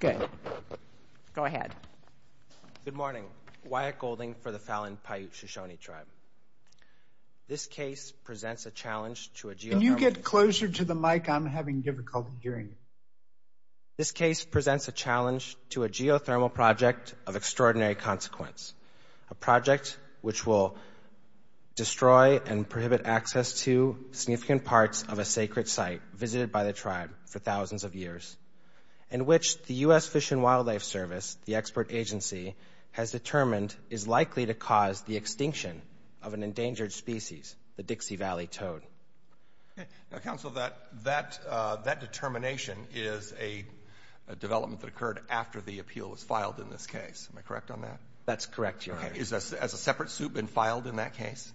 Good morning, Wyatt Golding for the Fallon Paiute-Shoshone Tribe. This case presents a challenge to a geothermal project... Can you get closer to the mic? I'm having difficulty hearing. This case presents a challenge to a geothermal project of extraordinary consequence, a project which will destroy and prohibit access to significant parts of a sacred site visited by the tribe for thousands of years, in which the U.S. Fish and Wildlife Service, the expert agency, has determined is likely to cause the extinction of an endangered species, the Dixie Valley toad. Counsel, that determination is a development that occurred after the appeal was filed in this case. Am I correct on that? That's correct, Your Honor. Has a separate suit been filed in that case?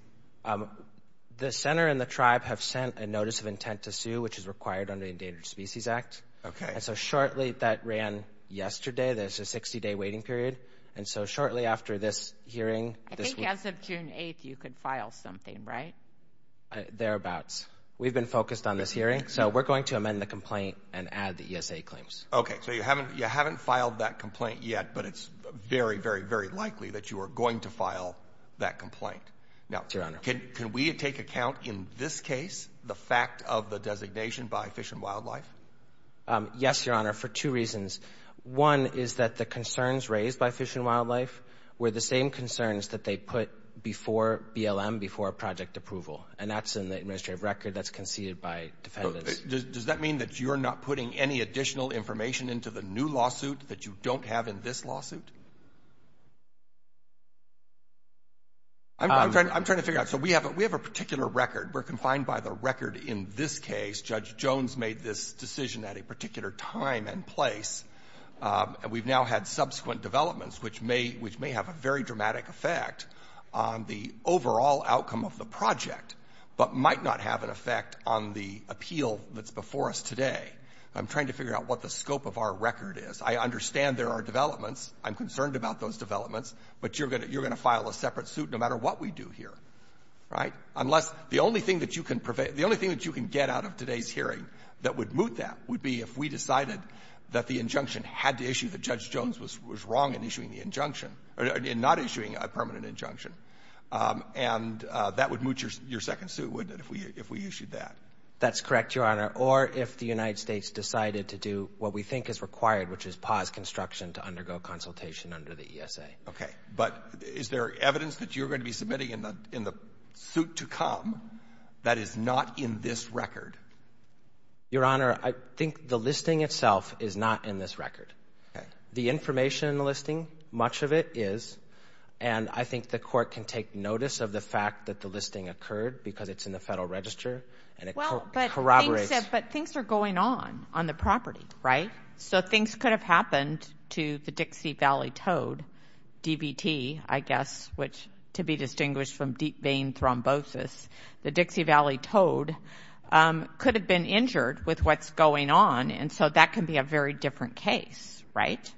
The center and the tribe have sent a notice of intent to sue, which is required under the Endangered Species Act. Okay. And so shortly, that ran yesterday. There's a 60-day waiting period. And so shortly after this hearing, this week... I think as of June 8th, you could file something, right? Thereabouts. We've been focused on this hearing, so we're going to amend the complaint and add the ESA claims. Okay, so you haven't filed that complaint yet, but it's very, very, very likely that you are going to file that complaint. Now, can we take account in this case the fact of the designation by Fish and Wildlife? Yes, Your Honor, for two reasons. One is that the concerns raised by Fish and Wildlife were the same concerns that they put before BLM, before project approval, and that's in the administrative record that's conceded by defendants. Does that mean that you're not putting any additional information into the new lawsuit that you don't have in this lawsuit? I'm trying to figure out. So we have a particular record. We're confined by the record in this case. Judge Jones made this decision at a particular time and place. And we've now had subsequent developments, which may have a very dramatic effect on the overall outcome of the project, but might not have an effect on the appeal that's before us today. I'm trying to figure out what the scope of our record is. I understand there are developments. I'm concerned about those developments. But you're going to file a separate suit no matter what we do here, right? Unless the only thing that you can get out of today's hearing that would moot that would be if we decided that the injunction had to issue, that Judge Jones was wrong in issuing the injunction, in not issuing a permanent injunction. And that would moot your second suit, wouldn't it, if we issued that? That's correct, Your Honor. Or if the United States decided to do what we think is required, which is pause construction to undergo consultation under the ESA. Okay. But is there evidence that you're going to be submitting in the suit to come that is not in this record? Your Honor, I think the listing itself is not in this record. Okay. The information in the listing, much of it is. And I think the Court can take notice of the fact that the listing occurred because it's in the Federal Register and it corroborates. But things are going on on the property, right? So things could have happened to the Dixie Valley Toad, DVT, I guess, which to be distinguished from deep vein thrombosis, the Dixie Valley Toad could have been injured with what's going on. And so that can be a very different case, right?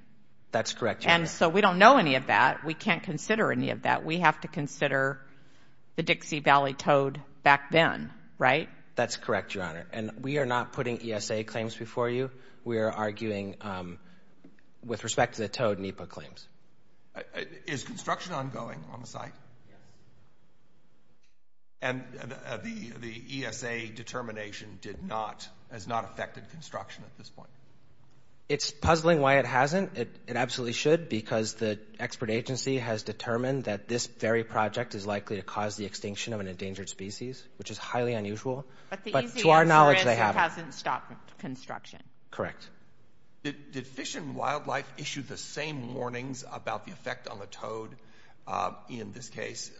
That's correct, Your Honor. And so we don't know any of that. We can't consider any of that. We have to consider the Dixie Valley Toad back then, right? That's correct, Your Honor. And we are not putting ESA claims before you. We are arguing with respect to the Toad NEPA claims. Is construction ongoing on the site? Yes. And the ESA determination has not affected construction at this point? It's puzzling why it hasn't. It absolutely should because the expert agency has determined that this very project is likely to cause the extinction of an endangered species, which is highly unusual. But the easy answer is it hasn't stopped construction. Correct. Did Fish and Wildlife issue the same warnings about the effect on the toad, in this case,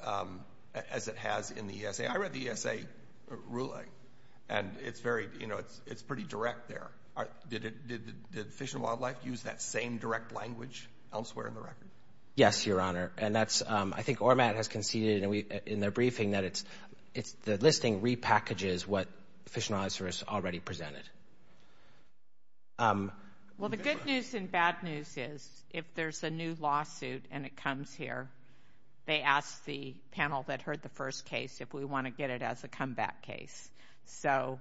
as it has in the ESA? I read the ESA ruling, and it's pretty direct there. Did Fish and Wildlife use that same direct language elsewhere in the record? Yes, Your Honor. And I think ORMAT has conceded in their briefing that the listing repackages what Fish and Wildlife Service already presented. Well, the good news and bad news is if there's a new lawsuit and it comes here, they ask the panel that heard the first case if we want to get it as a comeback case. So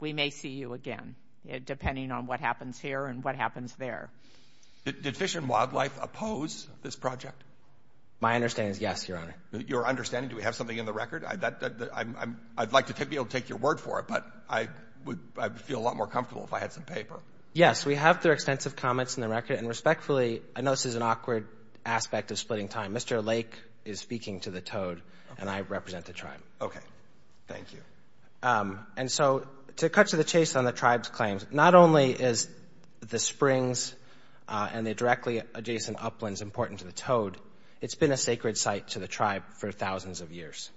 we may see you again, depending on what happens here and what happens there. Did Fish and Wildlife oppose this project? My understanding is yes, Your Honor. Your understanding? Do we have something in the record? I'd like to be able to take your word for it, but I would feel a lot more comfortable if I had some paper. Yes, we have their extensive comments in the record. And respectfully, I know this is an awkward aspect of splitting time. Mr. Lake is speaking to the toad, and I represent the tribe. Okay. Thank you. And so to cut to the chase on the tribe's claims, not only is the springs and the directly adjacent uplands important to the toad, it's been a sacred site to the tribe for thousands of years,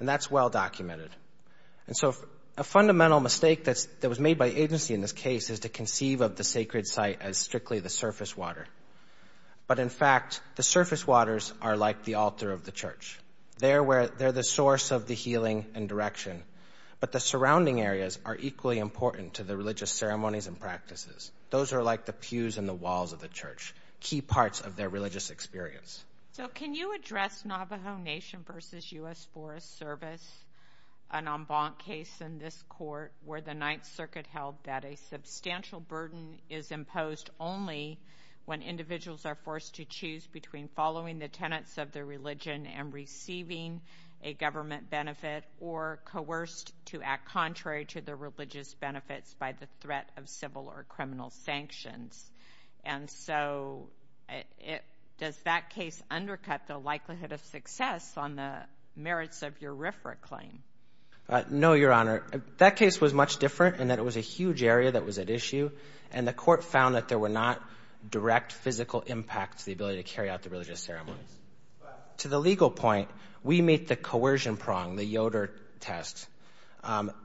and that's well documented. And so a fundamental mistake that was made by agency in this case is to conceive of the sacred site as strictly the surface water. But, in fact, the surface waters are like the altar of the church. They're the source of the healing and direction, but the surrounding areas are equally important to the religious ceremonies and practices. Those are like the pews and the walls of the church, key parts of their religious experience. So can you address Navajo Nation versus U.S. Forest Service, an en banc case in this court, where the Ninth Circuit held that a substantial burden is imposed only when individuals are forced to choose between following the tenets of their religion and receiving a government benefit or coerced to act contrary to their religious benefits by the threat of civil or criminal sanctions? And so does that case undercut the likelihood of success on the merits of your RFRA claim? No, Your Honor. That case was much different in that it was a huge area that was at issue, and the court found that there were not direct physical impacts to the ability to carry out the religious ceremonies. To the legal point, we meet the coercion prong, the Yoder test.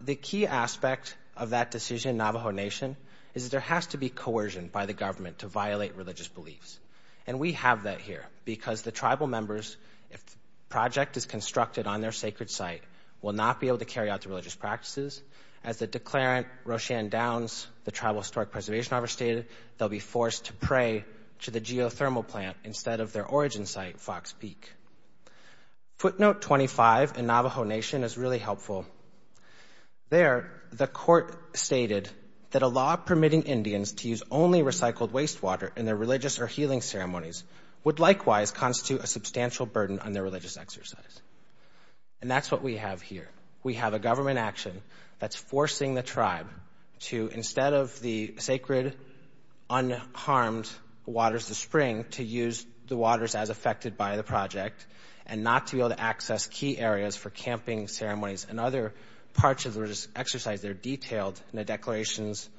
The key aspect of that decision in Navajo Nation is that there has to be coercion by the government to violate religious beliefs, and we have that here because the tribal members, if the project is constructed on their sacred site, will not be able to carry out the religious practices. As the declarant, Roshan Downs, the Tribal Historic Preservation Officer stated, they'll be forced to pray to the geothermal plant instead of their origin site, Fox Peak. Footnote 25 in Navajo Nation is really helpful. There, the court stated that a law permitting Indians to use only recycled wastewater in their religious or healing ceremonies would likewise constitute a substantial burden on their religious exercise. And that's what we have here. We have a government action that's forcing the tribe to, instead of the sacred, unharmed waters of the spring, to use the waters as affected by the project and not to be able to access key areas for camping ceremonies and other parts of the religious exercise. They're detailed in the declarations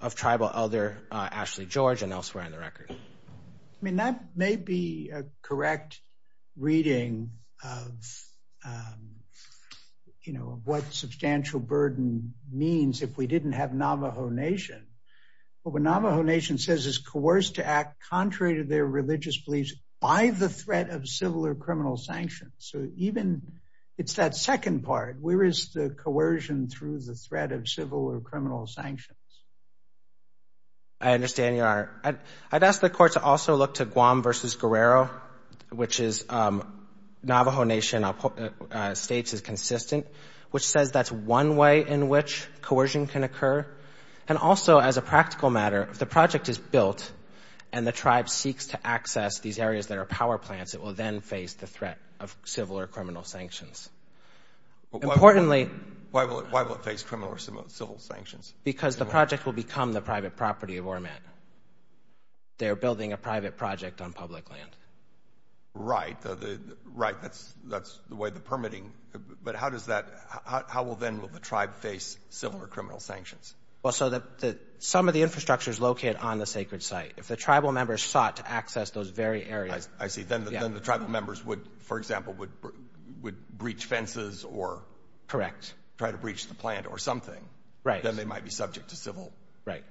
of Tribal Elder Ashley George and elsewhere on the record. I mean, that may be a correct reading of what substantial burden means if we didn't have Navajo Nation. But what Navajo Nation says is coerced to act contrary to their religious beliefs by the threat of civil or criminal sanctions. So even it's that second part, where is the coercion through the threat of civil or criminal sanctions? I understand you are. I'd ask the court to also look to Guam v. Guerrero, which Navajo Nation states is consistent, which says that's one way in which coercion can occur. And also, as a practical matter, if the project is built and the tribe seeks to access these areas that are power plants, it will then face the threat of civil or criminal sanctions. Importantly— Why will it face criminal or civil sanctions? Because the project will become the private property of ORMAT. They are building a private project on public land. Right, that's the way the permitting—but how will then the tribe face civil or criminal sanctions? Well, so some of the infrastructure is located on the sacred site. If the tribal members sought to access those very areas— Correct. —try to breach the plant or something, then they might be subject to civil. Right.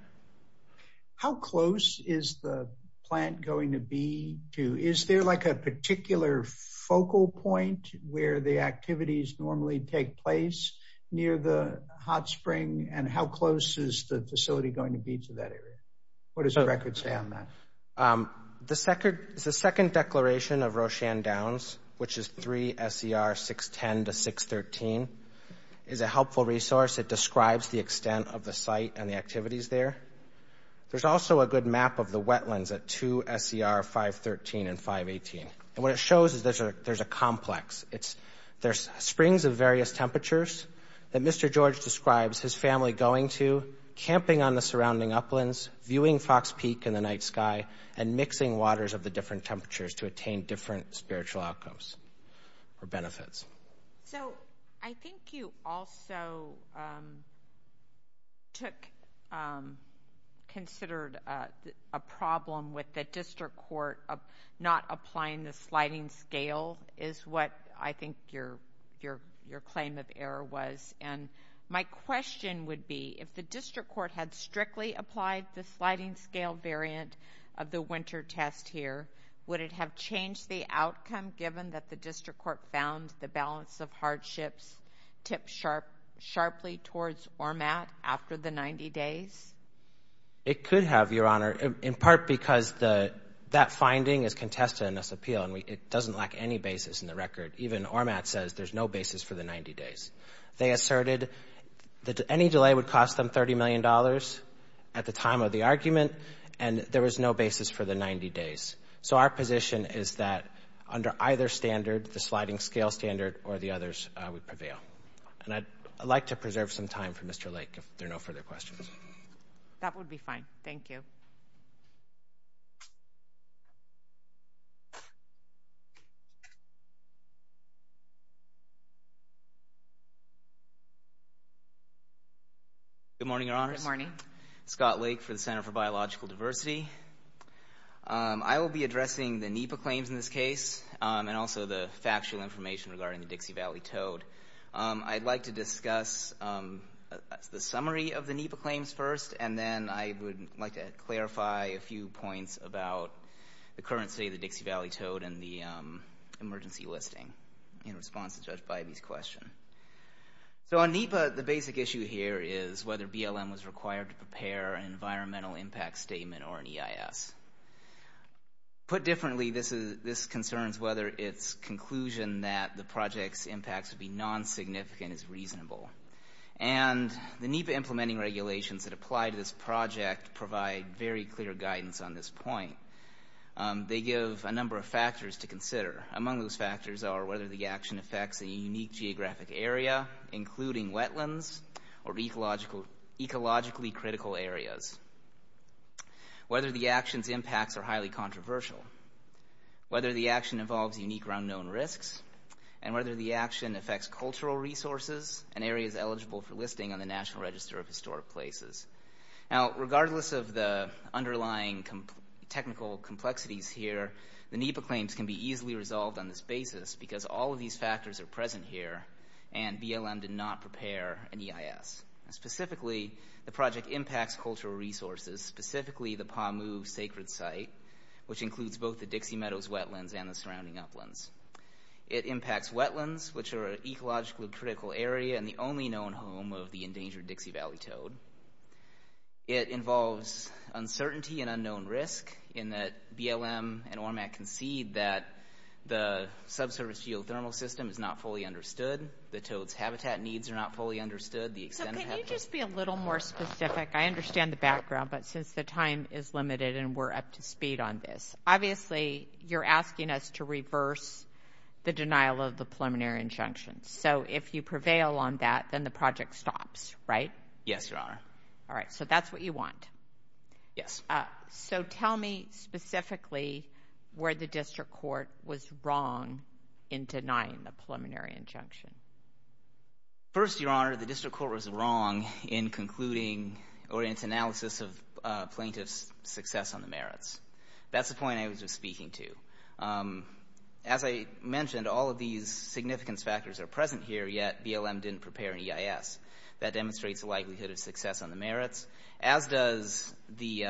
How close is the plant going to be to— is there like a particular focal point where the activities normally take place near the hot spring, and how close is the facility going to be to that area? What does the record say on that? The second declaration of Roshan Downs, which is 3 SCR 610 to 613, is a helpful resource. It describes the extent of the site and the activities there. There's also a good map of the wetlands at 2 SCR 513 and 518. And what it shows is there's a complex. There's springs of various temperatures that Mr. George describes his family going to, camping on the surrounding uplands, viewing Fox Peak in the night sky, and mixing waters of the different temperatures to attain different spiritual outcomes or benefits. So I think you also took—considered a problem with the district court of not applying the sliding scale is what I think your claim of error was. And my question would be if the district court had strictly applied the sliding scale variant of the winter test here, would it have changed the outcome given that the district court found the balance of hardships tipped sharply towards ORMAT after the 90 days? It could have, Your Honor, in part because that finding is contested in this appeal, and it doesn't lack any basis in the record. Even ORMAT says there's no basis for the 90 days. They asserted that any delay would cost them $30 million at the time of the argument, and there was no basis for the 90 days. So our position is that under either standard, the sliding scale standard, or the others, we prevail. And I'd like to preserve some time for Mr. Lake if there are no further questions. That would be fine. Thank you. Good morning, Your Honors. Good morning. Scott Lake for the Center for Biological Diversity. I will be addressing the NEPA claims in this case and also the factual information regarding the Dixie Valley toad. I'd like to discuss the summary of the NEPA claims first, and then I would like to clarify a few points about the current state of the Dixie Valley toad and the emergency listing in response to Judge Bybee's question. So on NEPA, the basic issue here is whether BLM was required to prepare an environmental impact statement or an EIS. Put differently, this concerns whether its conclusion that the project's impacts would be non-significant is reasonable. And the NEPA implementing regulations that apply to this project provide very clear guidance on this point. They give a number of factors to consider. Among those factors are whether the action affects a unique geographic area, including wetlands or ecologically critical areas, whether the action's impacts are highly controversial, whether the action involves unique or unknown risks, and whether the action affects cultural resources and areas eligible for listing on the National Register of Historic Places. Now, regardless of the underlying technical complexities here, the NEPA claims can be easily resolved on this basis because all of these factors are present here, and BLM did not prepare an EIS. Specifically, the project impacts cultural resources, specifically the Pamu Sacred Site, which includes both the Dixie Meadows wetlands and the surrounding uplands. It impacts wetlands, which are an ecologically critical area and the only known home of the endangered Dixie Valley toad. It involves uncertainty and unknown risk in that BLM and ORMAC concede that the subsurface geothermal system is not fully understood. The toad's habitat needs are not fully understood. So can you just be a little more specific? I understand the background, but since the time is limited and we're up to speed on this, obviously you're asking us to reverse the denial of the preliminary injunctions. So if you prevail on that, then the project stops, right? Yes, Your Honor. All right, so that's what you want. Yes. So tell me specifically where the district court was wrong in denying the preliminary injunction. First, Your Honor, the district court was wrong in concluding or in its analysis of plaintiffs' success on the merits. That's the point I was just speaking to. As I mentioned, all of these significance factors are present here, yet BLM didn't prepare an EIS. That demonstrates the likelihood of success on the merits, as does the...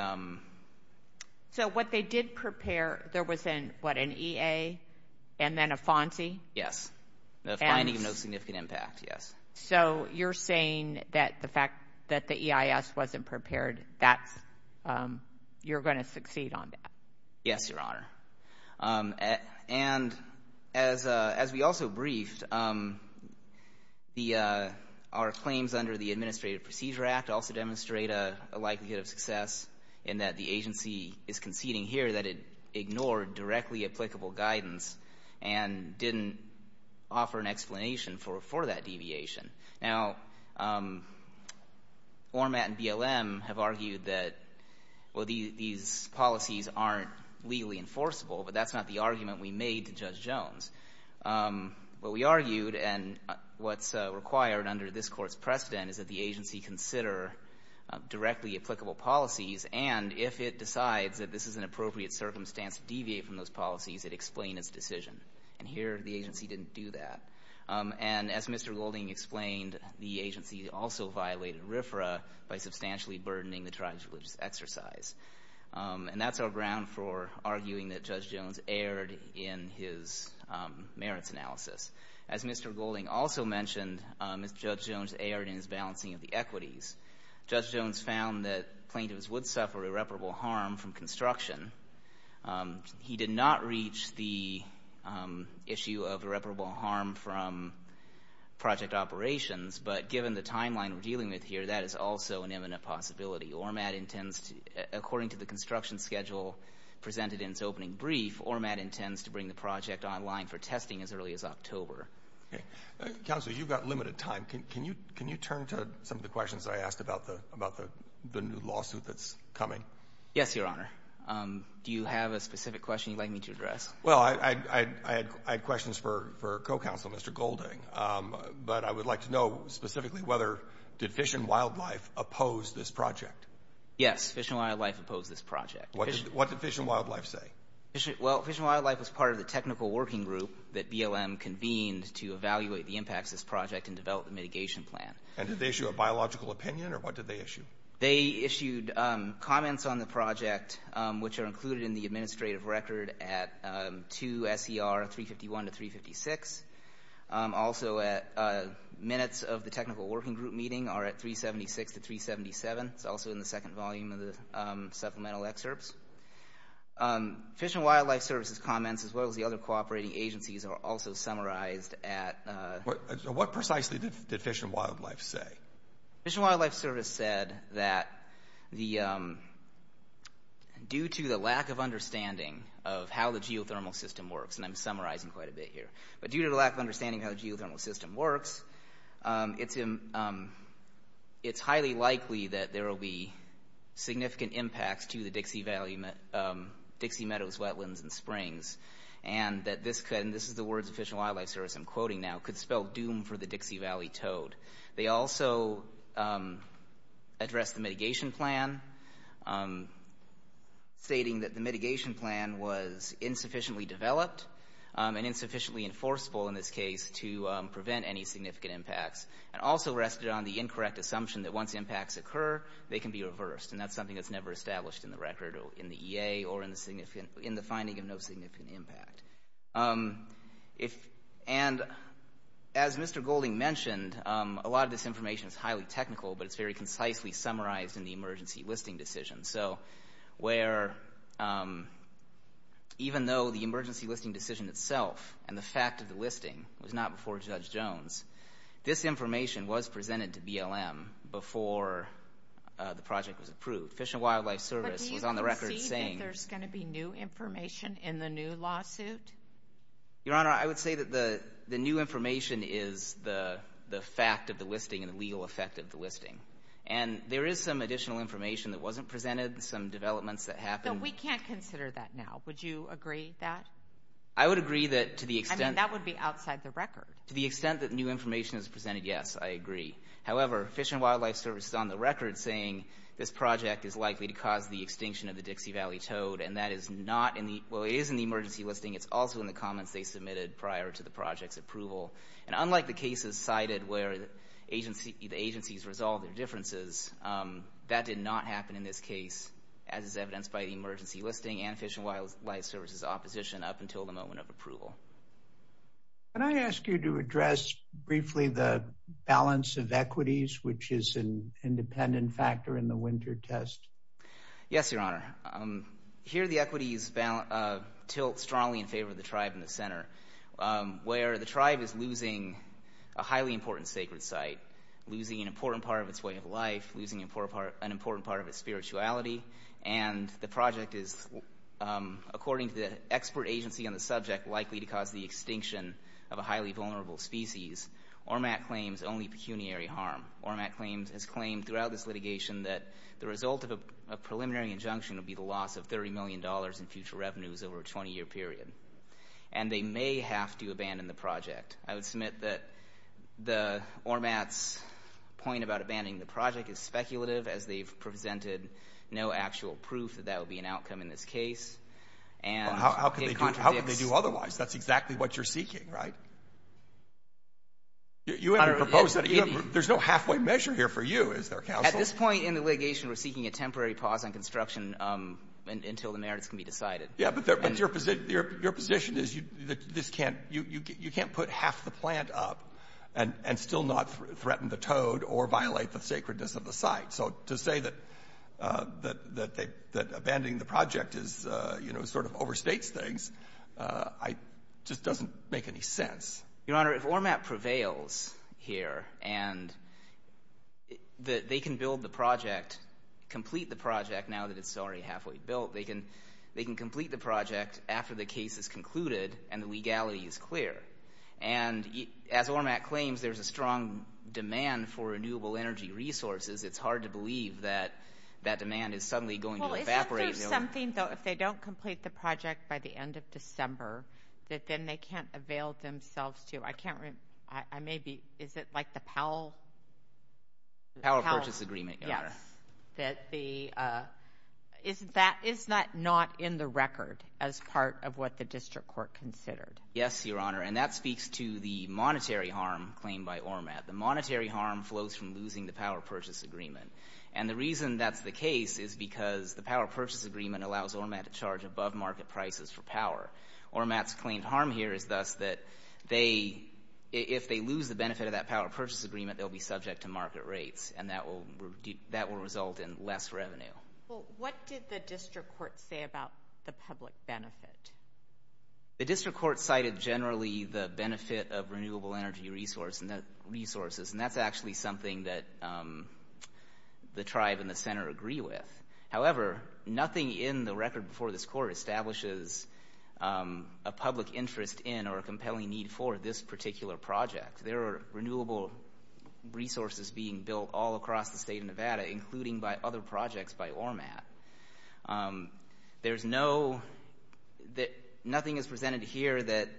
So what they did prepare, there was, what, an EA and then a FONSI? Yes, the finding of no significant impact, yes. So you're saying that the fact that the EIS wasn't prepared, you're going to succeed on that? Yes, Your Honor. And as we also briefed, our claims under the Administrative Procedure Act also demonstrate a likelihood of success in that the agency is conceding here that it ignored directly applicable guidance and didn't offer an explanation for that deviation. Now, ORMAT and BLM have argued that, well, these policies aren't legally enforceable, but that's not the argument we made to Judge Jones. What we argued and what's required under this Court's precedent is that the agency consider directly applicable policies and if it decides that this is an appropriate circumstance to deviate from those policies, it explain its decision. And here, the agency didn't do that. And as Mr. Golding explained, the agency also violated RFRA by substantially burdening the tribes' religious exercise. And that's our ground for arguing that Judge Jones erred in his merits analysis. As Mr. Golding also mentioned, Judge Jones erred in his balancing of the equities. Judge Jones found that plaintiffs would suffer irreparable harm from construction. He did not reach the issue of irreparable harm from project operations, but given the timeline we're dealing with here, that is also an imminent possibility. According to the construction schedule presented in its opening brief, ORMAT intends to bring the project online for testing as early as October. Counsel, you've got limited time. Can you turn to some of the questions I asked about the new lawsuit that's coming? Yes, Your Honor. Do you have a specific question you'd like me to address? Well, I had questions for co-counsel Mr. Golding, but I would like to know specifically did Fish and Wildlife oppose this project? Yes, Fish and Wildlife opposed this project. What did Fish and Wildlife say? Well, Fish and Wildlife was part of the technical working group that BLM convened to evaluate the impacts of this project and develop a mitigation plan. And did they issue a biological opinion, or what did they issue? They issued comments on the project, which are included in the administrative record at 2 S.E.R. 351 to 356. Also, minutes of the technical working group meeting are at 376 to 377. It's also in the second volume of the supplemental excerpts. Fish and Wildlife Service's comments, as well as the other cooperating agencies, are also summarized at... What precisely did Fish and Wildlife say? Fish and Wildlife Service said that due to the lack of understanding of how the geothermal system works, and I'm summarizing quite a bit here, but due to the lack of understanding of how the geothermal system works, it's highly likely that there will be significant impacts to the Dixie Meadows wetlands and springs, and that this could, and this is the words of Fish and Wildlife Service I'm quoting now, could spell doom for the Dixie Valley toad. They also addressed the mitigation plan, stating that the mitigation plan was insufficiently developed and insufficiently enforceable in this case to prevent any significant impacts, and also rested on the incorrect assumption that once impacts occur, they can be reversed, and that's something that's never established in the record or in the EA or in the finding of no significant impact. And as Mr. Golding mentioned, a lot of this information is highly technical, but it's very concisely summarized in the emergency listing decision. So where even though the emergency listing decision itself and the fact of the listing was not before Judge Jones, this information was presented to BLM before the project was approved. Fish and Wildlife Service was on the record saying... But do you concede that there's going to be new information in the new lawsuit? Your Honor, I would say that the new information is the fact of the listing and the legal effect of the listing, and there is some additional information that wasn't presented, some developments that happened. No, we can't consider that now. Would you agree with that? I would agree that to the extent... I mean, that would be outside the record. To the extent that new information is presented, yes, I agree. However, Fish and Wildlife Service is on the record saying this project is likely to cause the extinction of the Dixie Valley toad, and that is not in the emergency listing. It's also in the comments they submitted prior to the project's approval. And unlike the cases cited where the agencies resolved their differences, that did not happen in this case, as is evidenced by the emergency listing and Fish and Wildlife Service's opposition up until the moment of approval. Can I ask you to address briefly the balance of equities, which is an independent factor in the winter test? Yes, Your Honor. Here the equities tilt strongly in favor of the tribe in the center, where the tribe is losing a highly important sacred site, losing an important part of its way of life, losing an important part of its spirituality, and the project is, according to the expert agency on the subject, likely to cause the extinction of a highly vulnerable species. ORMAT claims only pecuniary harm. ORMAT has claimed throughout this litigation that the result of a preliminary injunction would be the loss of $30 million in future revenues over a 20-year period. And they may have to abandon the project. I would submit that the ORMAT's point about abandoning the project is speculative, as they've presented no actual proof that that would be an outcome in this case. How could they do otherwise? That's exactly what you're seeking, right? You haven't proposed that. There's no halfway measure here for you, is there, counsel? At this point in the litigation, we're seeking a temporary pause on construction until the merits can be decided. Yeah, but your position is you can't put half the plant up and still not threaten the toad or violate the sacredness of the site. So to say that abandoning the project sort of overstates things just doesn't make any sense. Your Honor, if ORMAT prevails here and they can build the project, complete the project now that it's already halfway built, they can complete the project after the case is concluded and the legality is clear. And as ORMAT claims, there's a strong demand for renewable energy resources. It's hard to believe that that demand is suddenly going to evaporate. Well, isn't there something, though, if they don't complete the project by the end of December, that then they can't avail themselves to? I can't remember. Is it like the Powell? The Powell Purchase Agreement, Your Honor. Yes, that is not in the record as part of what the district court considered. Yes, Your Honor, and that speaks to the monetary harm claimed by ORMAT. The monetary harm flows from losing the Powell Purchase Agreement. And the reason that's the case is because the Powell Purchase Agreement allows ORMAT to charge above-market prices for power. ORMAT's claimed harm here is thus that if they lose the benefit of that Powell Purchase Agreement, they'll be subject to market rates, and that will result in less revenue. Well, what did the district court say about the public benefit? The district court cited generally the benefit of renewable energy resources, and that's actually something that the tribe in the center agree with. However, nothing in the record before this court establishes a public interest in or a compelling need for this particular project. There are renewable resources being built all across the state of Nevada, including by other projects by ORMAT. There's noónothing is presented here that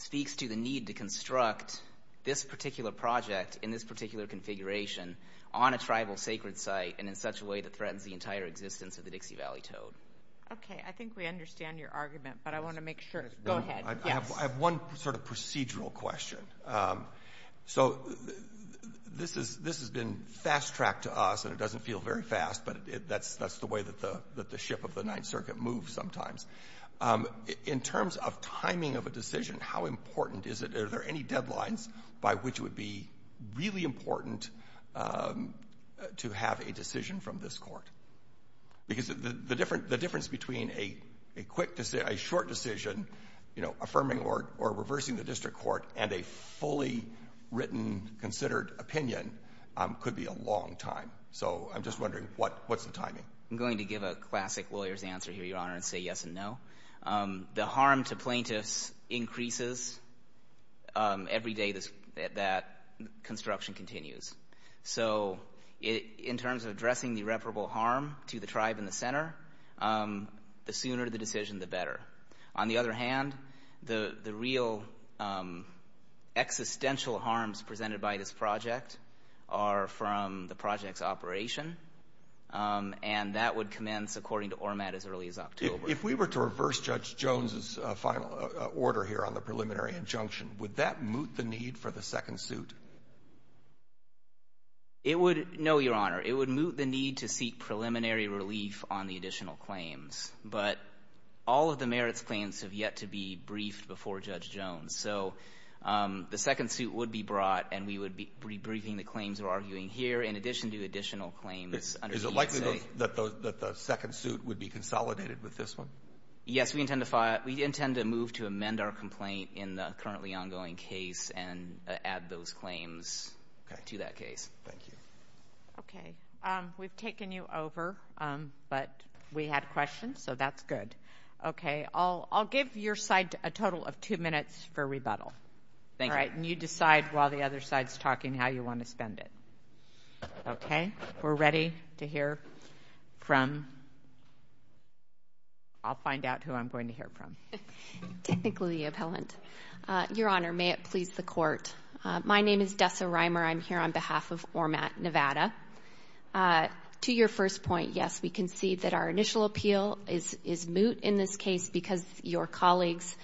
speaks to the need to construct this particular project in this particular configuration on a tribal sacred site and in such a way that threatens the entire existence of the Dixie Valley Toad. Okay, I think we understand your argument, but I want to make sureógo ahead. Yes. I have one sort of procedural question. So this has been fast-tracked to us, and it doesn't feel very fast, but that's the way that the ship of the Ninth Circuit moves sometimes. In terms of timing of a decision, how important is itó are there any deadlines by which it would be really important to have a decision from this court? Because the difference between a short decision affirming or reversing the district court and a fully written, considered opinion could be a long time. So I'm just wondering, what's the timing? I'm going to give a classic lawyer's answer here, Your Honor, and say yes and no. The harm to plaintiffs increases every day that construction continues. So in terms of addressing the irreparable harm to the tribe in the center, the sooner the decision, the better. On the other hand, the real existential harms presented by this project are from the project's operation, and that would commence according to ORMAT as early as October. If we were to reverse Judge Jones's final order here on the preliminary injunction, would that moot the need for the second suit? It wouldóno, Your Honor. It would moot the need to seek preliminary relief on the additional claims. But all of the merits claims have yet to be briefed before Judge Jones. So the second suit would be brought, and we would be rebriefing the claims we're arguing here in addition to additional claimsó Is it likely that the second suit would be consolidated with this one? Yes, we intend to move to amend our complaint in the currently ongoing case and add those claims to that case. Thank you. Okay. We've taken you over, but we had questions, so that's good. Okay. I'll give your side a total of two minutes for rebuttal. Thank you. All right, and you decide while the other side's talking how you want to spend it. Okay. We're ready to hear fromóI'll find out who I'm going to hear from. Technically the appellant. Your Honor, may it please the Court, my name is Dessa Reimer. I'm here on behalf of ORMAT Nevada. To your first point, yes, we concede that our initial appeal is moot in this case because your colleagues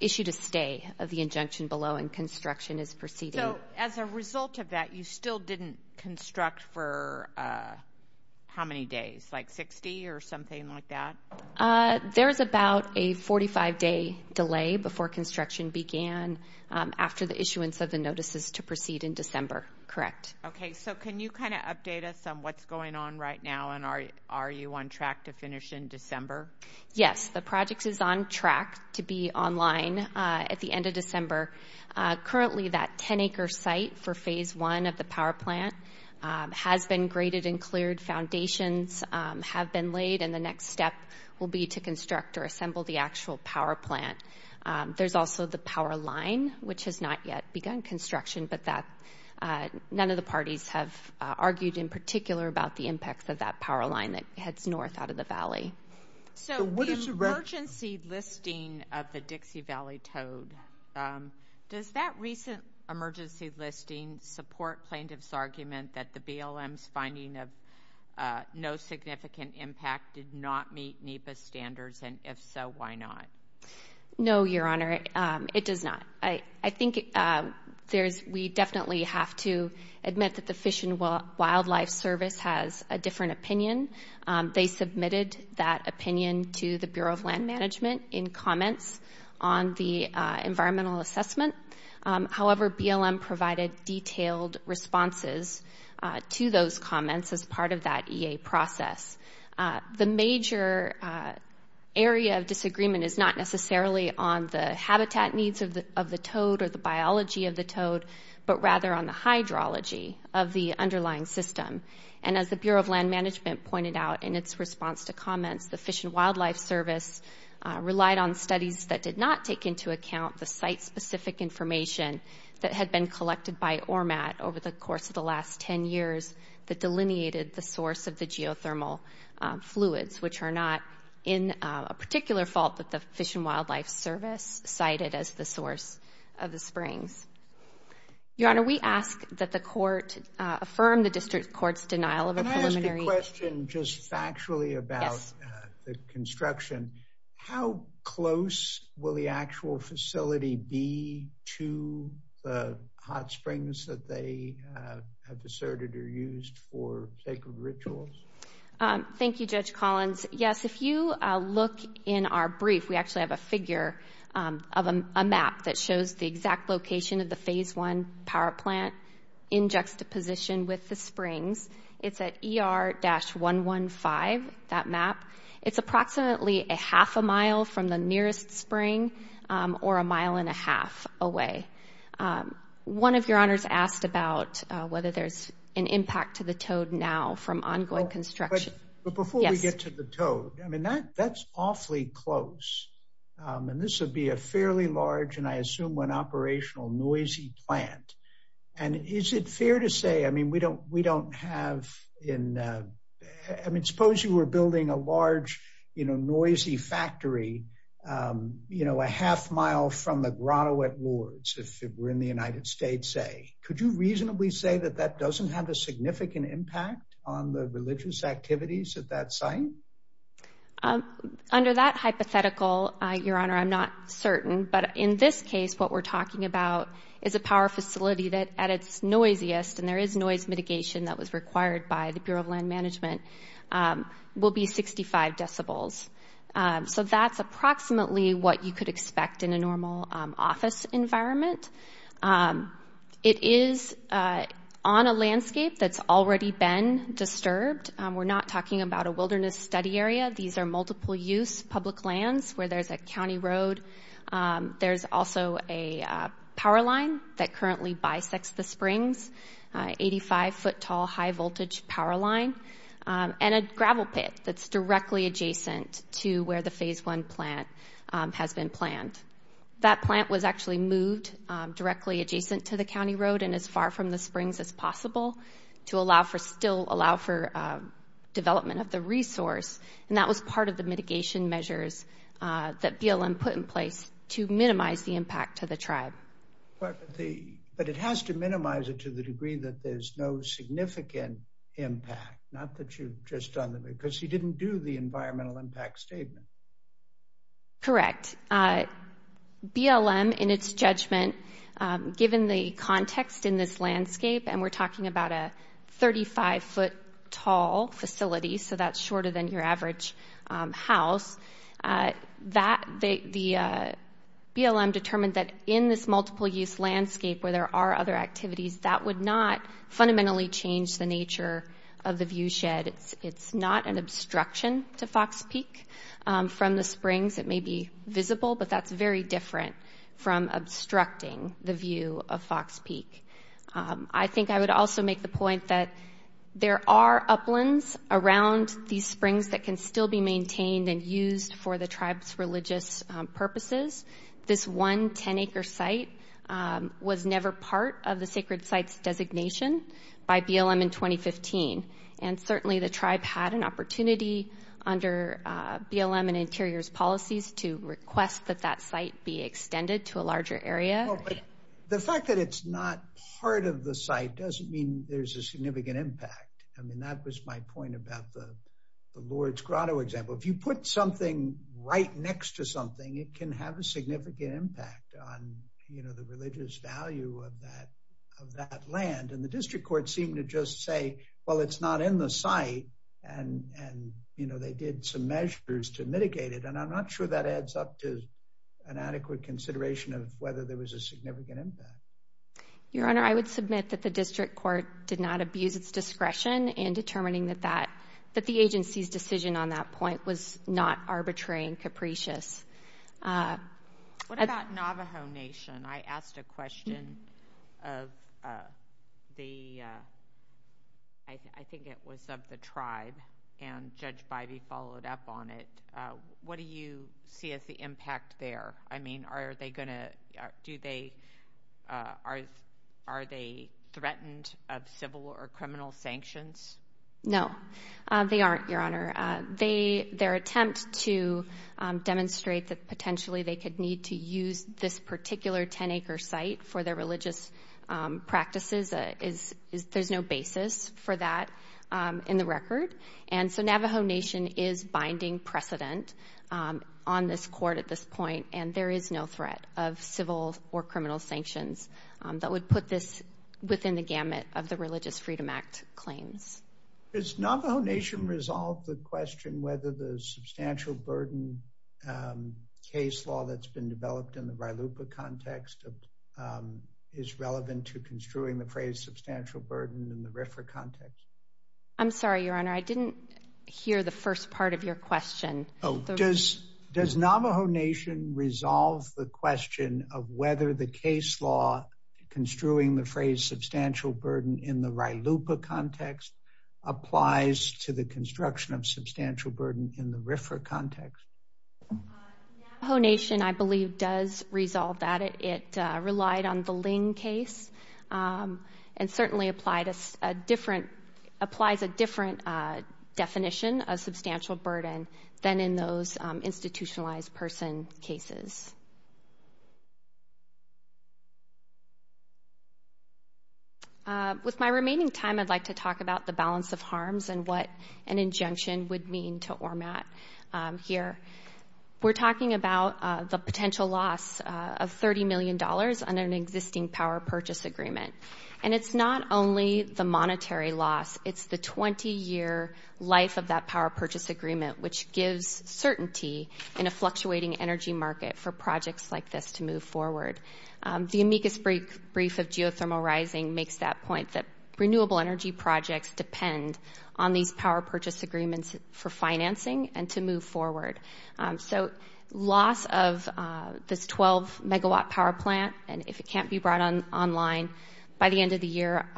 issued a stay of the injunction below, and construction is proceeding. So as a result of that, you still didn't construct for how many days, like 60 or something like that? There's about a 45-day delay before construction began after the issuance of the notices to proceed in December. Correct. Okay. So can you kind of update us on what's going on right now, and are you on track to finish in December? Yes, the project is on track to be online at the end of December. Currently that 10-acre site for Phase I of the power plant has been graded and cleared. Foundations have been laid, and the next step will be to construct or assemble the actual power plant. There's also the power line, which has not yet begun construction, but none of the parties have argued in particular about the impacts of that power line that heads north out of the valley. So the emergency listing of the Dixie Valley Toad, does that recent emergency listing support plaintiff's argument that the BLM's finding of no significant impact did not meet NEPA standards, and if so, why not? No, Your Honor, it does not. I think we definitely have to admit that the Fish and Wildlife Service has a different opinion. They submitted that opinion to the Bureau of Land Management in comments on the environmental assessment. However, BLM provided detailed responses to those comments as part of that EA process. The major area of disagreement is not necessarily on the habitat needs of the toad or the biology of the toad, but rather on the hydrology of the underlying system. And as the Bureau of Land Management pointed out in its response to comments, the Fish and Wildlife Service relied on studies that did not take into account the site-specific information that had been collected by ORMAT over the course of the last 10 years that delineated the source of the geothermal fluids, which are not in a particular fault that the Fish and Wildlife Service cited as the source of the springs. Your Honor, we ask that the court affirm the district court's denial of a preliminary... Can I ask a question just factually about the construction? How close will the actual facility be to the hot springs that they have deserted or used for sacred rituals? Thank you, Judge Collins. Yes, if you look in our brief, we actually have a figure of a map that shows the exact location of the Phase I power plant in juxtaposition with the springs. It's at ER-115, that map. It's approximately a half a mile from the nearest spring or a mile and a half away. One of your honors asked about whether there's an impact to the toad now from ongoing construction. But before we get to the toad, I mean, that's awfully close. And this would be a fairly large and I assume an operational noisy plant. And is it fair to say, I mean, we don't have in... I mean, suppose you were building a large, you know, noisy factory, you know, a half mile from the Grotto at Lourdes, if we're in the United States, say. Could you reasonably say that that doesn't have a significant impact on the religious activities at that site? Under that hypothetical, Your Honor, I'm not certain. But in this case, what we're talking about is a power facility that at its noisiest, and there is noise mitigation that was required by the Bureau of Land Management, will be 65 decibels. So that's approximately what you could expect in a normal office environment. It is on a landscape that's already been disturbed. We're not talking about a wilderness study area. These are multiple-use public lands where there's a county road. There's also a power line that currently bisects the springs, 85-foot-tall high-voltage power line, and a gravel pit that's directly adjacent to where the Phase I plant has been planned. That plant was actually moved directly adjacent to the county road and as far from the springs as possible to allow for still – development of the resource. And that was part of the mitigation measures that BLM put in place to minimize the impact to the tribe. But it has to minimize it to the degree that there's no significant impact, not that you've just done the – because you didn't do the environmental impact statement. Correct. BLM, in its judgment, given the context in this landscape, and we're talking about a 35-foot-tall facility, so that's shorter than your average house, that – the BLM determined that, in this multiple-use landscape where there are other activities, that would not fundamentally change the nature of the viewshed. It's not an obstruction to Fox Peak. From the springs, it may be visible, but that's very different from obstructing the view of Fox Peak. I think I would also make the point that there are uplands around these springs that can still be maintained and used for the tribe's religious purposes. This one 10-acre site was never part of the sacred site's designation by BLM in 2015. And certainly the tribe had an opportunity under BLM and Interior's policies to request that that site be extended to a larger area. The fact that it's not part of the site doesn't mean there's a significant impact. I mean, that was my point about the Lord's Grotto example. If you put something right next to something, it can have a significant impact on the religious value of that land. And the district courts seem to just say, well, it's not in the site, and they did some measures to mitigate it. And I'm not sure that adds up to an adequate consideration of whether there was a significant impact. Your Honor, I would submit that the district court did not abuse its discretion in determining that the agency's decision on that point was not arbitrary and capricious. What about Navajo Nation? I asked a question of the tribe, and Judge Bivey followed up on it. What do you see as the impact there? I mean, are they threatened of civil or criminal sanctions? No, they aren't, Your Honor. Their attempt to demonstrate that potentially they could need to use this particular 10-acre site for their religious practices, And so Navajo Nation is binding precedent on this court at this point, and there is no threat of civil or criminal sanctions that would put this within the gamut of the Religious Freedom Act claims. Does Navajo Nation resolve the question whether the substantial burden case law that's been developed in the Vailupa context is relevant to construing the phrase substantial burden in the RFRA context? I'm sorry, Your Honor, I didn't hear the first part of your question. Does Navajo Nation resolve the question of whether the case law construing the phrase substantial burden in the Vailupa context applies to the construction of substantial burden in the RFRA context? Navajo Nation, I believe, does resolve that. It relied on the Ling case and certainly applies a different definition of substantial burden than in those institutionalized person cases. With my remaining time, I'd like to talk about the balance of harms and what an injunction would mean to ORMAT here. We're talking about the potential loss of $30 million on an existing power purchase agreement, and it's not only the monetary loss. It's the 20-year life of that power purchase agreement, which gives certainty in a fluctuating energy market for projects like this to move forward. The amicus brief of geothermal rising makes that point, that renewable energy projects depend on these power purchase agreements for financing and to move forward. So loss of this 12-megawatt power plant, and if it can't be brought online by the end of the year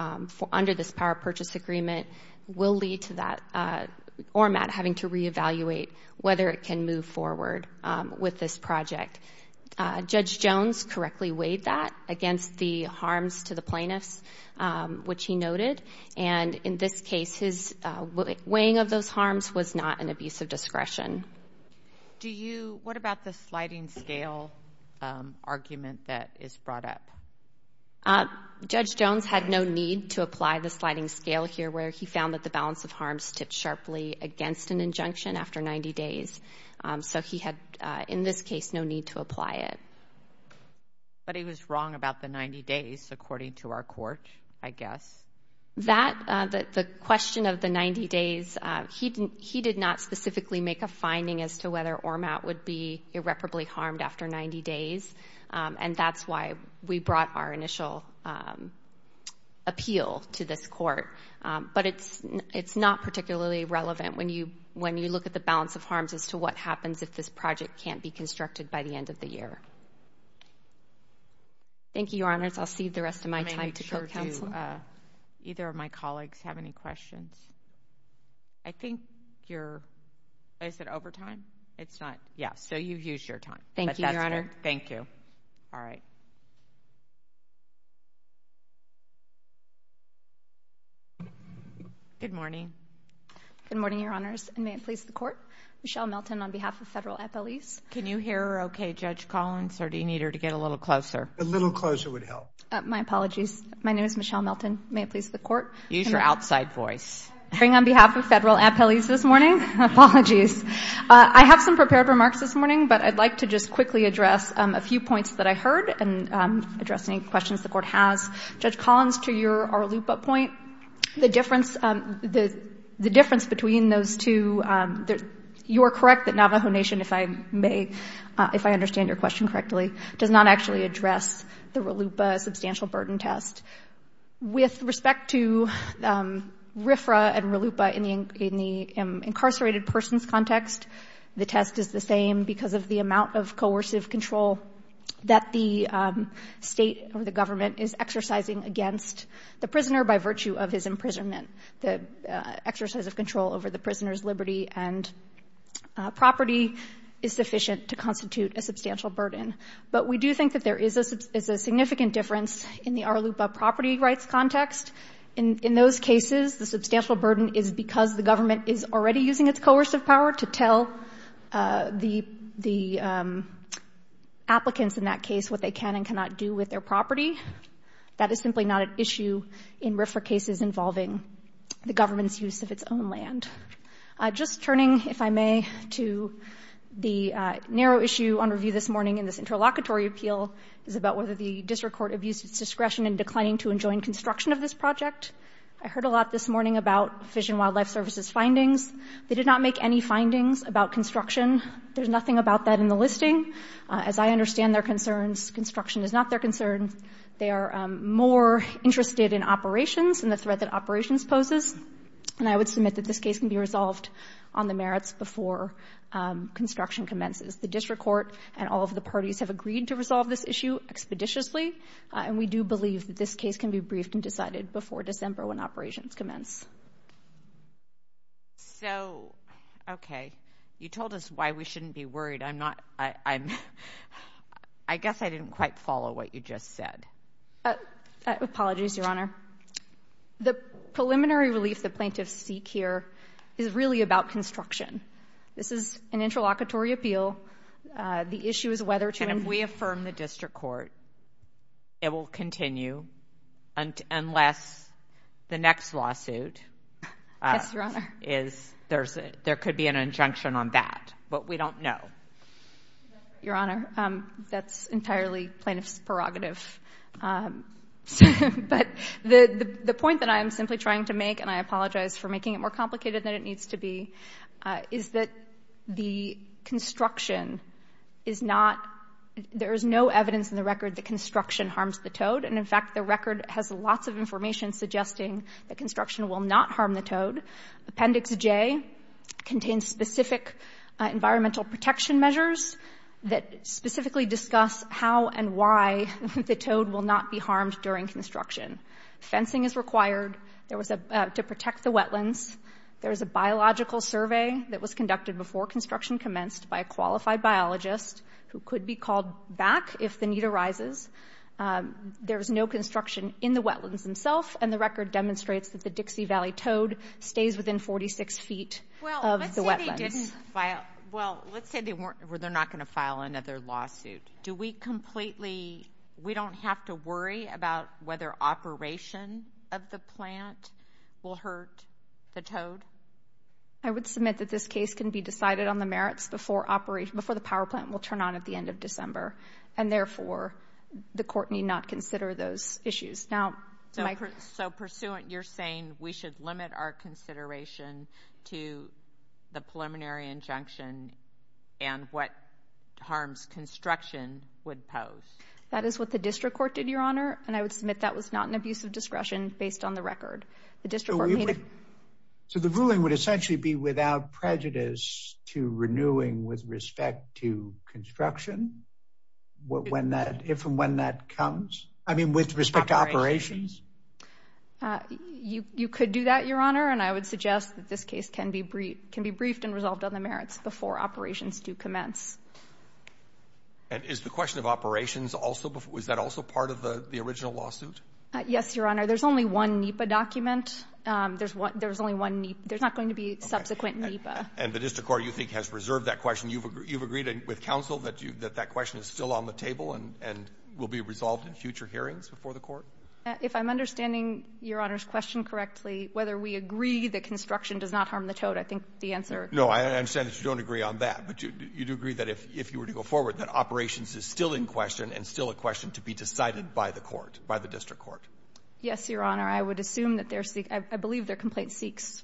under this power purchase agreement, will lead to that ORMAT having to reevaluate whether it can move forward with this project. Judge Jones correctly weighed that against the harms to the plaintiffs, which he noted, and in this case, his weighing of those harms was not an abuse of discretion. What about the sliding scale argument that is brought up? Judge Jones had no need to apply the sliding scale here, where he found that the balance of harms tipped sharply against an injunction after 90 days. So he had, in this case, no need to apply it. But he was wrong about the 90 days, according to our court, I guess. The question of the 90 days, he did not specifically make a finding as to whether ORMAT would be irreparably harmed after 90 days, and that's why we brought our initial appeal to this court. But it's not particularly relevant when you look at the balance of harms as to what happens if this project can't be constructed by the end of the year. Thank you, Your Honors. I'll cede the rest of my time to court counsel. Do either of my colleagues have any questions? I think you're over time. Yeah, so you've used your time. Thank you, Your Honor. Thank you. All right. Good morning. Good morning, Your Honors, and may it please the Court, Michelle Melton on behalf of Federal Appellees. Can you hear her okay, Judge Collins, or do you need her to get a little closer? A little closer would help. My apologies. My name is Michelle Melton. May it please the Court? Use your outside voice. On behalf of Federal Appellees this morning, apologies. I have some prepared remarks this morning, but I'd like to just quickly address a few points that I heard and address any questions the Court has. Judge Collins, to your loop-up point, the difference between those two, you are correct that Navajo Nation, if I understand your question correctly, does not actually address the RLUIPA substantial burden test. With respect to RFRA and RLUIPA in the incarcerated person's context, the test is the same because of the amount of coercive control that the State or the government is exercising against the prisoner by virtue of his imprisonment. The exercise of control over the prisoner's liberty and property is sufficient to constitute a substantial burden. But we do think that there is a significant difference in the RLUIPA property rights context. In those cases, the substantial burden is because the government is already using its coercive power to tell the applicants in that case what they can and cannot do with their property. That is simply not an issue in RFRA cases involving the government's use of its own land. Just turning, if I may, to the narrow issue on review this morning in this interlocutory appeal is about whether the district court abused its discretion in declining to enjoin construction of this project. I heard a lot this morning about Fish and Wildlife Service's findings. They did not make any findings about construction. There's nothing about that in the listing. As I understand their concerns, construction is not their concern. They are more interested in operations and the threat that operations poses, and I would submit that this case can be resolved on the merits before construction commences. The district court and all of the parties have agreed to resolve this issue expeditiously, and we do believe that this case can be briefed and decided before December when operations commence. So, okay. You told us why we shouldn't be worried. I guess I didn't quite follow what you just said. Apologies, Your Honor. The preliminary relief the plaintiffs seek here is really about construction. This is an interlocutory appeal. The issue is whether to endure. And if we affirm the district court, it will continue unless the next lawsuit is. Yes, Your Honor. There could be an injunction on that, but we don't know. Your Honor, that's entirely plaintiffs' prerogative. But the point that I am simply trying to make, and I apologize for making it more complicated than it needs to be, is that the construction is not, there is no evidence in the record that construction harms the toad. And, in fact, the record has lots of information suggesting that construction will not harm the toad. Appendix J contains specific environmental protection measures that specifically discuss how and why the toad will not be harmed during construction. Fencing is required to protect the wetlands. There is a biological survey that was conducted before construction commenced by a qualified biologist who could be called back if the need arises. There is no construction in the wetlands themselves, and the record demonstrates that the Dixie Valley toad stays within 46 feet of the wetlands. Well, let's say they didn't file, well, let's say they're not going to file another lawsuit. Do we completely, we don't have to worry about whether operation of the plant will hurt the toad? I would submit that this case can be decided on the merits before the power plant will turn on at the end of December, and, therefore, the court need not consider those issues. So, pursuant, you're saying we should limit our consideration to the preliminary injunction and what harms construction would pose? That is what the district court did, Your Honor, and I would submit that was not an abuse of discretion based on the record. So the ruling would essentially be without prejudice to renewing with respect to construction? When that, if and when that comes? I mean, with respect to operations? You could do that, Your Honor, and I would suggest that this case can be briefed and resolved on the merits before operations do commence. And is the question of operations also, was that also part of the original lawsuit? Yes, Your Honor. There's only one NEPA document. There's only one NEPA. There's not going to be subsequent NEPA. And the district court, you think, has reserved that question. You've agreed with counsel that that question is still on the table and will be resolved in future hearings before the court? If I'm understanding Your Honor's question correctly, whether we agree that construction does not harm the toad, I think the answer is yes. No, I understand that you don't agree on that, but you do agree that if you were to go forward that operations is still in question and still a question to be decided by the court, by the district court. Yes, Your Honor. I would assume that they're seeking, I believe their complaint seeks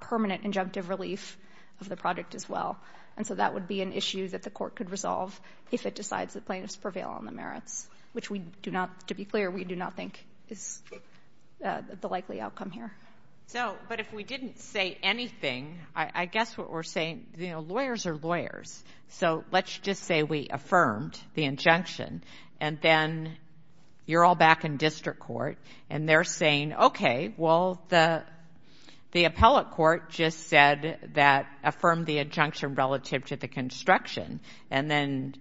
permanent injunctive relief of the project as well. And so that would be an issue that the court could resolve if it decides that plaintiffs prevail on the merits, which we do not, to be clear, we do not think is the likely outcome here. So, but if we didn't say anything, I guess what we're saying, you know, lawyers are lawyers. So let's just say we affirmed the injunction and then you're all back in district court and they're saying, okay, well, the appellate court just said that, affirmed the injunction relative to the construction, and then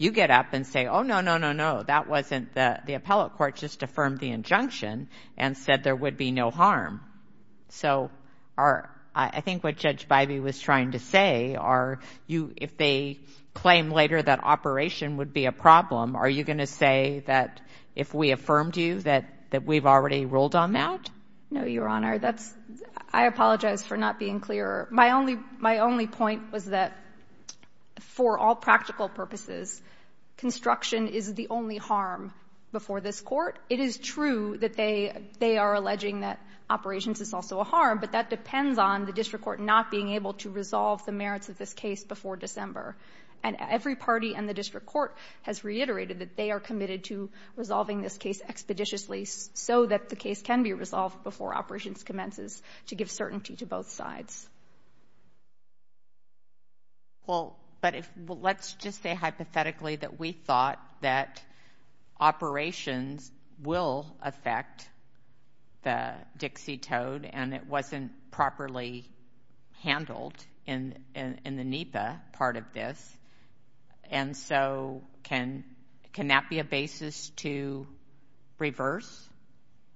you get up and say, oh, no, no, no, no, that wasn't the, the appellate court just affirmed the injunction and said there would be no harm. So are, I think what Judge Bybee was trying to say are you, if they claim later that operation would be a problem, are you going to say that if we affirmed you that, that we've already ruled on that? No, Your Honor. That's, I apologize for not being clear. My only, my only point was that for all practical purposes, construction is the only harm before this court. It is true that they, they are alleging that operations is also a harm, but that depends on the district court not being able to resolve the merits of this case before December. And every party in the district court has reiterated that they are committed to resolving this case expeditiously so that the case can be resolved before operations commences to give certainty to both sides. Well, but if, let's just say hypothetically that we thought that operations will affect the Dixie Toad and it wasn't properly handled in the NEPA part of this, and so can that be a basis to reverse?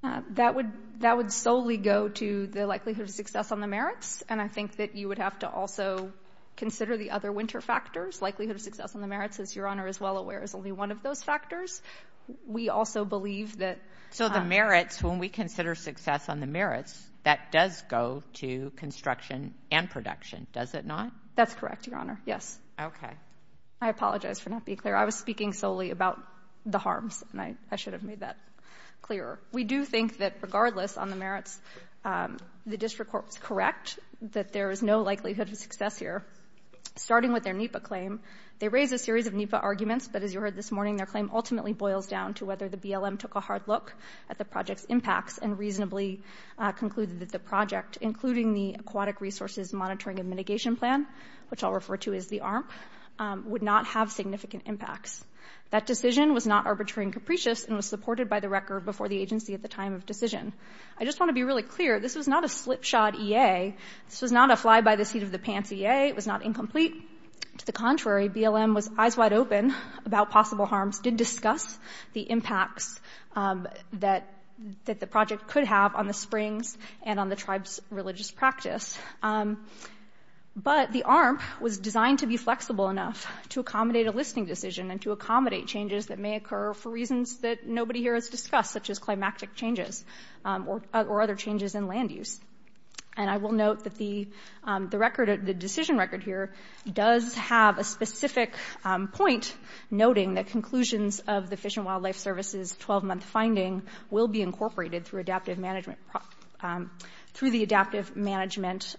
That would solely go to the likelihood of success on the merits, and I think that you would have to also consider the other winter factors. Likelihood of success on the merits, as Your Honor is well aware, is only one of those factors. We also believe that. So the merits, when we consider success on the merits, that does go to construction and production, does it not? That's correct, Your Honor. Yes. Okay. I apologize for not being clear. I was speaking solely about the harms, and I should have made that clearer. We do think that regardless on the merits, the district court was correct, that there is no likelihood of success here, starting with their NEPA claim. They raised a series of NEPA arguments, but as you heard this morning, their claim ultimately boils down to whether the BLM took a hard look at the project's impacts and reasonably concluded that the project, including the Aquatic Resources Monitoring and Mitigation Plan, which I'll refer to as the ARMP, would not have significant impacts. That decision was not arbitrary and capricious and was supported by the record before the agency at the time of decision. I just want to be really clear, this was not a slipshod EA. This was not a fly-by-the-seat-of-the-pants EA. It was not incomplete. To the contrary, BLM was eyes wide open about possible harms, did discuss the impacts that the project could have on the springs and on the tribe's religious practice. But the ARMP was designed to be flexible enough to accommodate a listing decision and to accommodate changes that may occur for reasons that nobody here has discussed, such as climactic changes or other changes in land use. And I will note that the decision record here does have a specific point noting that conclusions of the Fish and Wildlife Service's 12-month finding will be incorporated through the adaptive management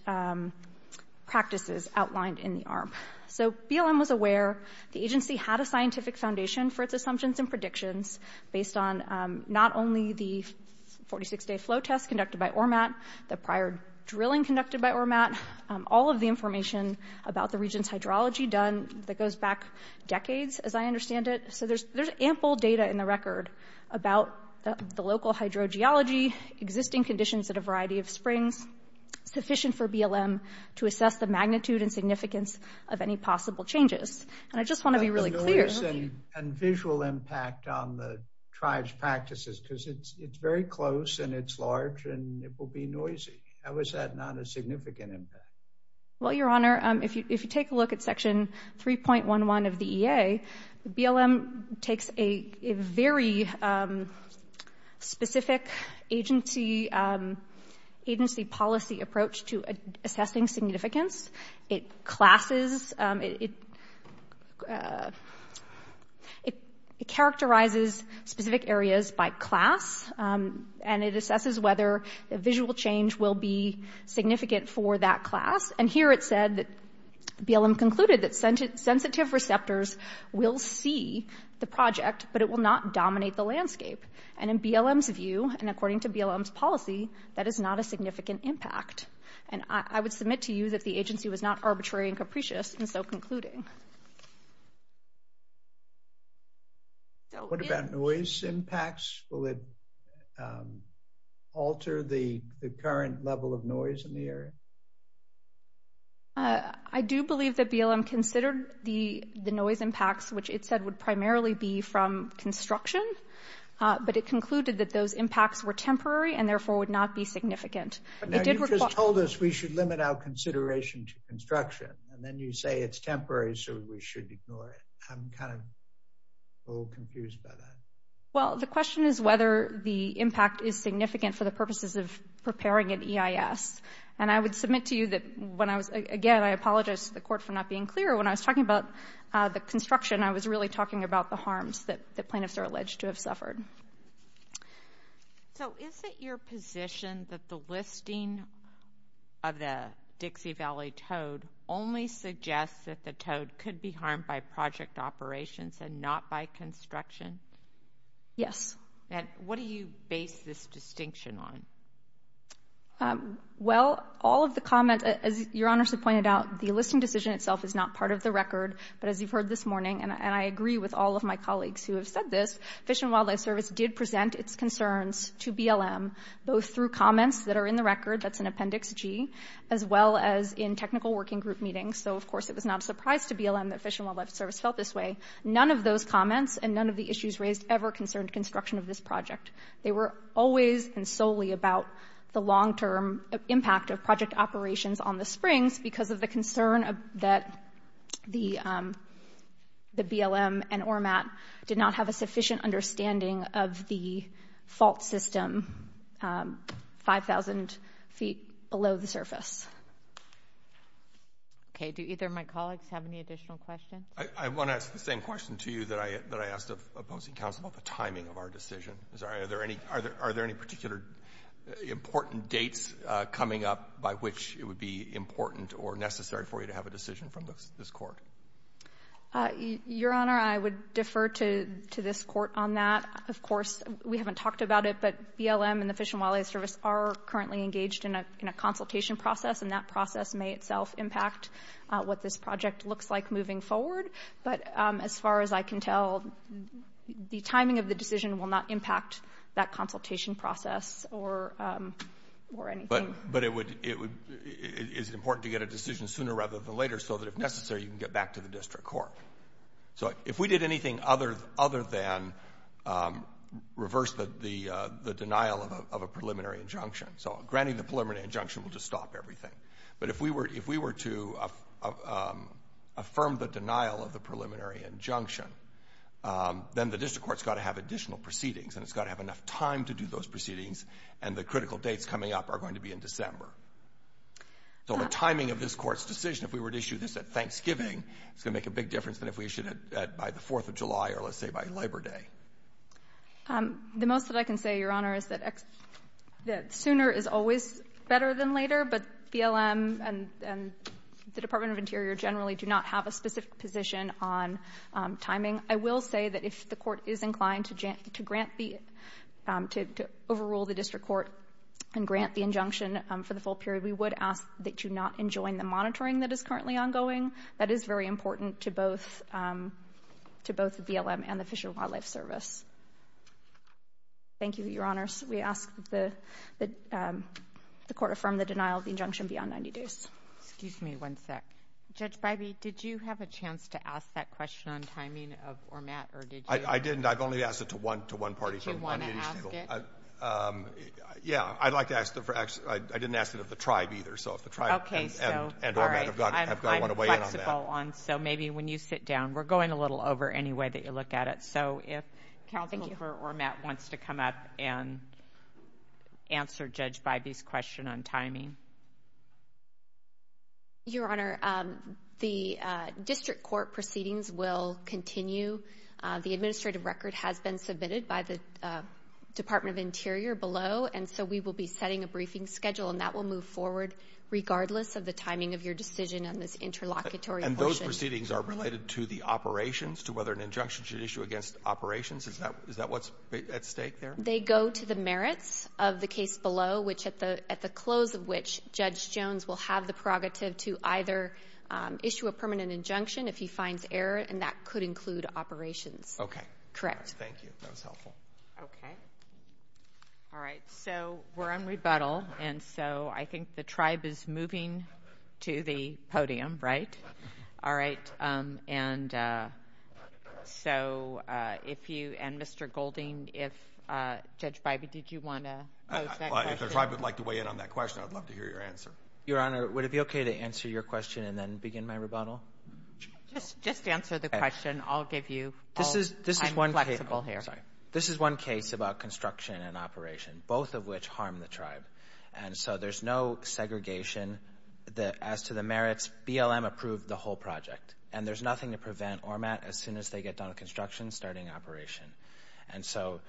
practices outlined in the ARMP. So BLM was aware. based on not only the 46-day flow test conducted by ORMAT, the prior drilling conducted by ORMAT, all of the information about the region's hydrology done that goes back decades, as I understand it. So there's ample data in the record about the local hydrogeology, existing conditions at a variety of springs sufficient for BLM to assess the magnitude and significance of any possible changes. And I just want to be really clear. What is the size and visual impact on the tribe's practices? Because it's very close and it's large and it will be noisy. How is that not a significant impact? Well, Your Honor, if you take a look at Section 3.11 of the EA, BLM takes a very specific agency policy approach to assessing significance. It classes, it characterizes specific areas by class, and it assesses whether a visual change will be significant for that class. And here it said that BLM concluded that sensitive receptors will see the project, but it will not dominate the landscape. And in BLM's view and according to BLM's policy, that is not a significant impact. And I would submit to you that the agency was not arbitrary and capricious in so concluding. What about noise impacts? Will it alter the current level of noise in the area? I do believe that BLM considered the noise impacts, which it said would primarily be from construction, but it concluded that those impacts were temporary and therefore would not be significant. You just told us we should limit our consideration to construction, and then you say it's temporary so we should ignore it. I'm kind of a little confused by that. Well, the question is whether the impact is significant for the purposes of preparing an EIS. And I would submit to you that when I was – again, I apologize to the Court for not being clear. When I was talking about the construction, I was really talking about the harms that plaintiffs are alleged to have suffered. So is it your position that the listing of the Dixie Valley toad only suggests that the toad could be harmed by project operations and not by construction? Yes. And what do you base this distinction on? Well, all of the comments – as Your Honor has pointed out, the listing decision itself is not part of the record. But as you've heard this morning, and I agree with all of my colleagues who have said this, Fish and Wildlife Service did present its concerns to BLM, both through comments that are in the record – that's in Appendix G – as well as in technical working group meetings. So, of course, it was not a surprise to BLM that Fish and Wildlife Service felt this way. None of those comments and none of the issues raised ever concerned construction of this project. They were always and solely about the long-term impact of project operations on the springs because of the concern that the BLM and ORMAT did not have a sufficient understanding of the fault system 5,000 feet below the surface. Okay. Do either of my colleagues have any additional questions? I want to ask the same question to you that I asked of opposing counsel about the timing of our decision. Are there any particular important dates coming up by which it would be important or necessary for you to have a decision from this Court? Your Honor, I would defer to this Court on that. Of course, we haven't talked about it, but BLM and the Fish and Wildlife Service are currently engaged in a consultation process, and that process may itself impact what this project looks like moving forward. But as far as I can tell, the timing of the decision will not impact that consultation process or anything. But is it important to get a decision sooner rather than later so that if necessary you can get back to the district court? So if we did anything other than reverse the denial of a preliminary injunction, so granting the preliminary injunction will just stop everything. But if we were to affirm the denial of the preliminary injunction, then the district court's got to have additional proceedings, and it's got to have enough time to do those proceedings, and the critical dates coming up are going to be in December. So the timing of this Court's decision, if we were to issue this at Thanksgiving, is going to make a big difference than if we issued it by the 4th of July or, let's say, by Labor Day. The most that I can say, Your Honor, is that sooner is always better than later, but BLM and the Department of Interior generally do not have a specific position on timing. I will say that if the Court is inclined to grant the — to overrule the district court and grant the injunction for the full period, we would ask that you not enjoin the monitoring that is currently ongoing. That is very important to both BLM and the Fish and Wildlife Service. Thank you, Your Honors. We ask that the Court affirm the denial of the injunction beyond 90 days. Excuse me one sec. Judge Bybee, did you have a chance to ask that question on timing or Matt, or did you? I didn't. I've only asked it to one party. Do you want to ask it? Yeah, I'd like to ask it. I didn't ask it of the tribe either, so if the tribe and Ormatt have got to want to weigh in on that. Okay, so, all right, I'm flexible on, so maybe when you sit down. We're going a little over anyway that you look at it, so if Counselor Ormatt wants to come up and answer Judge Bybee's question on timing. Your Honor, the district court proceedings will continue. The administrative record has been submitted by the Department of Interior below, and so we will be setting a briefing schedule, and that will move forward regardless of the timing of your decision on this interlocutory portion. And those proceedings are related to the operations, to whether an injunction should issue against operations? Is that what's at stake there? They go to the merits of the case below, which at the close of which Judge Jones will have the prerogative to either issue a permanent injunction if he finds error, and that could include operations. Okay. Correct. Thank you. That was helpful. Okay. All right, so we're on rebuttal, and so I think the tribe is moving to the podium, right? All right, and so if you and Mr. Golding, if Judge Bybee, did you want to pose that question? If the tribe would like to weigh in on that question, I'd love to hear your answer. Your Honor, would it be okay to answer your question and then begin my rebuttal? Just answer the question. I'll give you all the time and flexibility here. This is one case about construction and operation, both of which harm the tribe. And so there's no segregation as to the merits. BLM approved the whole project, and there's nothing to prevent ORMAT as soon as they get done with construction, starting operation. And so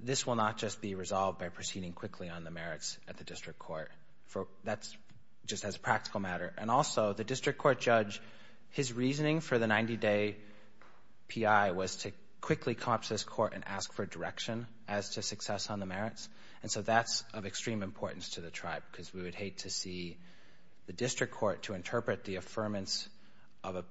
this will not just be resolved by proceeding quickly on the merits at the district court. That's just as a practical matter. And also, the district court judge, his reasoning for the 90-day P.I. was to quickly come up to this court and ask for direction as to success on the merits. And so that's of extreme importance to the tribe, because we would hate to see the district court to interpret the affirmance of a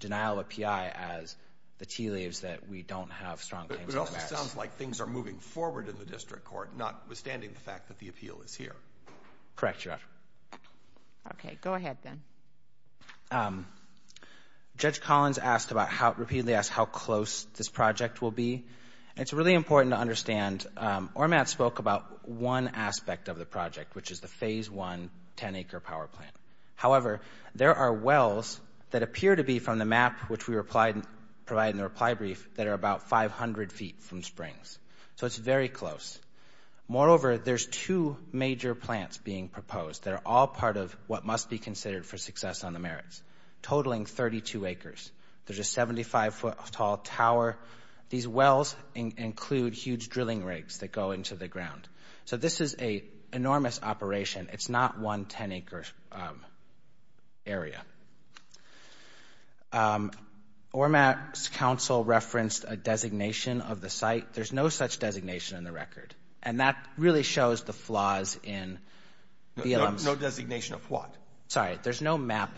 denial of a P.I. as the tea leaves that we don't have strong claims on the merits. But it also sounds like things are moving forward in the district court, notwithstanding the fact that the appeal is here. Correct, Your Honor. Okay, go ahead then. Judge Collins asked about how-repeatedly asked how close this project will be. It's really important to understand ORMAT spoke about one aspect of the project, which is the Phase I 10-acre power plant. However, there are wells that appear to be from the map, which we provided in the reply brief, that are about 500 feet from springs. So it's very close. Moreover, there's two major plants being proposed that are all part of what must be considered for success on the merits, totaling 32 acres. There's a 75-foot-tall tower. These wells include huge drilling rigs that go into the ground. So this is an enormous operation. It's not one 10-acre area. ORMAT's counsel referenced a designation of the site. There's no such designation in the record, and that really shows the flaws in BLM's- No designation of what? Sorry, there's no map.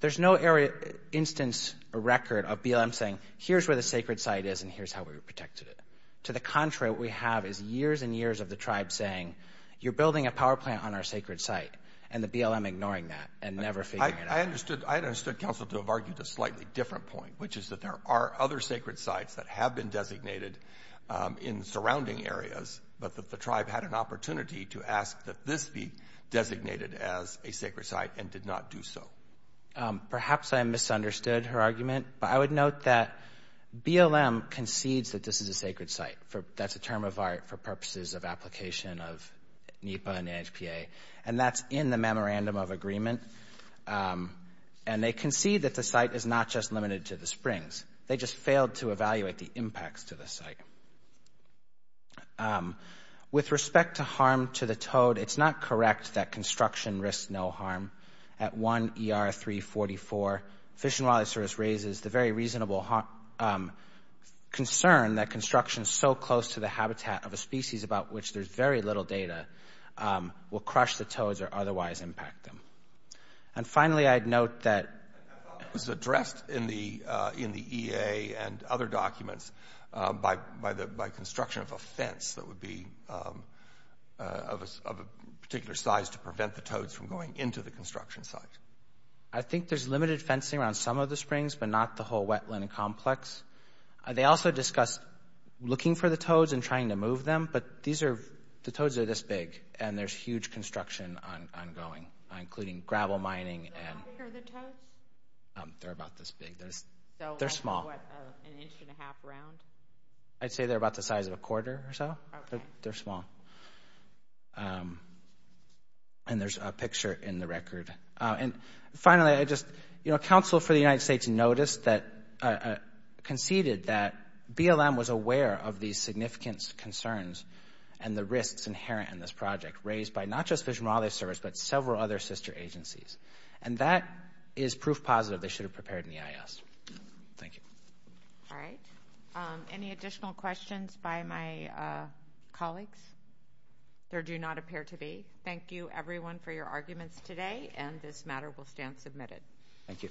There's no instance or record of BLM saying, here's where the sacred site is and here's how we protected it. To the contrary, what we have is years and years of the tribe saying, you're building a power plant on our sacred site, and the BLM ignoring that and never figuring it out. I understood counsel to have argued a slightly different point, which is that there are other sacred sites that have been designated in surrounding areas, but that the tribe had an opportunity to ask that this be designated as a sacred site and did not do so. Perhaps I misunderstood her argument, but I would note that BLM concedes that this is a sacred site. That's a term of art for purposes of application of NEPA and NHPA, and that's in the memorandum of agreement. And they concede that the site is not just limited to the springs. They just failed to evaluate the impacts to the site. With respect to harm to the toad, it's not correct that construction risks no harm. At 1 ER 344, Fish and Wildlife Service raises the very reasonable concern that construction so close to the habitat of a species about which there's very little data will crush the toads or otherwise impact them. And finally, I'd note that... It was addressed in the EA and other documents by construction of a fence that would be of a particular size to prevent the toads from going into the construction site. I think there's limited fencing around some of the springs, but not the whole wetland complex. They also discussed looking for the toads and trying to move them, but the toads are this big, and there's huge construction ongoing, including gravel mining. How big are the toads? They're about this big. They're small. An inch and a half round? I'd say they're about the size of a quarter or so. Okay. They're small. And there's a picture in the record. Finally, a council for the United States conceded that BLM was aware of these significant concerns and the risks inherent in this project raised by not just Fish and Wildlife Service, but several other sister agencies. And that is proof positive they should have prepared an EIS. Thank you. All right. Any additional questions by my colleagues? There do not appear to be. Thank you, everyone, for your arguments today. And this matter will stand submitted. Thank you.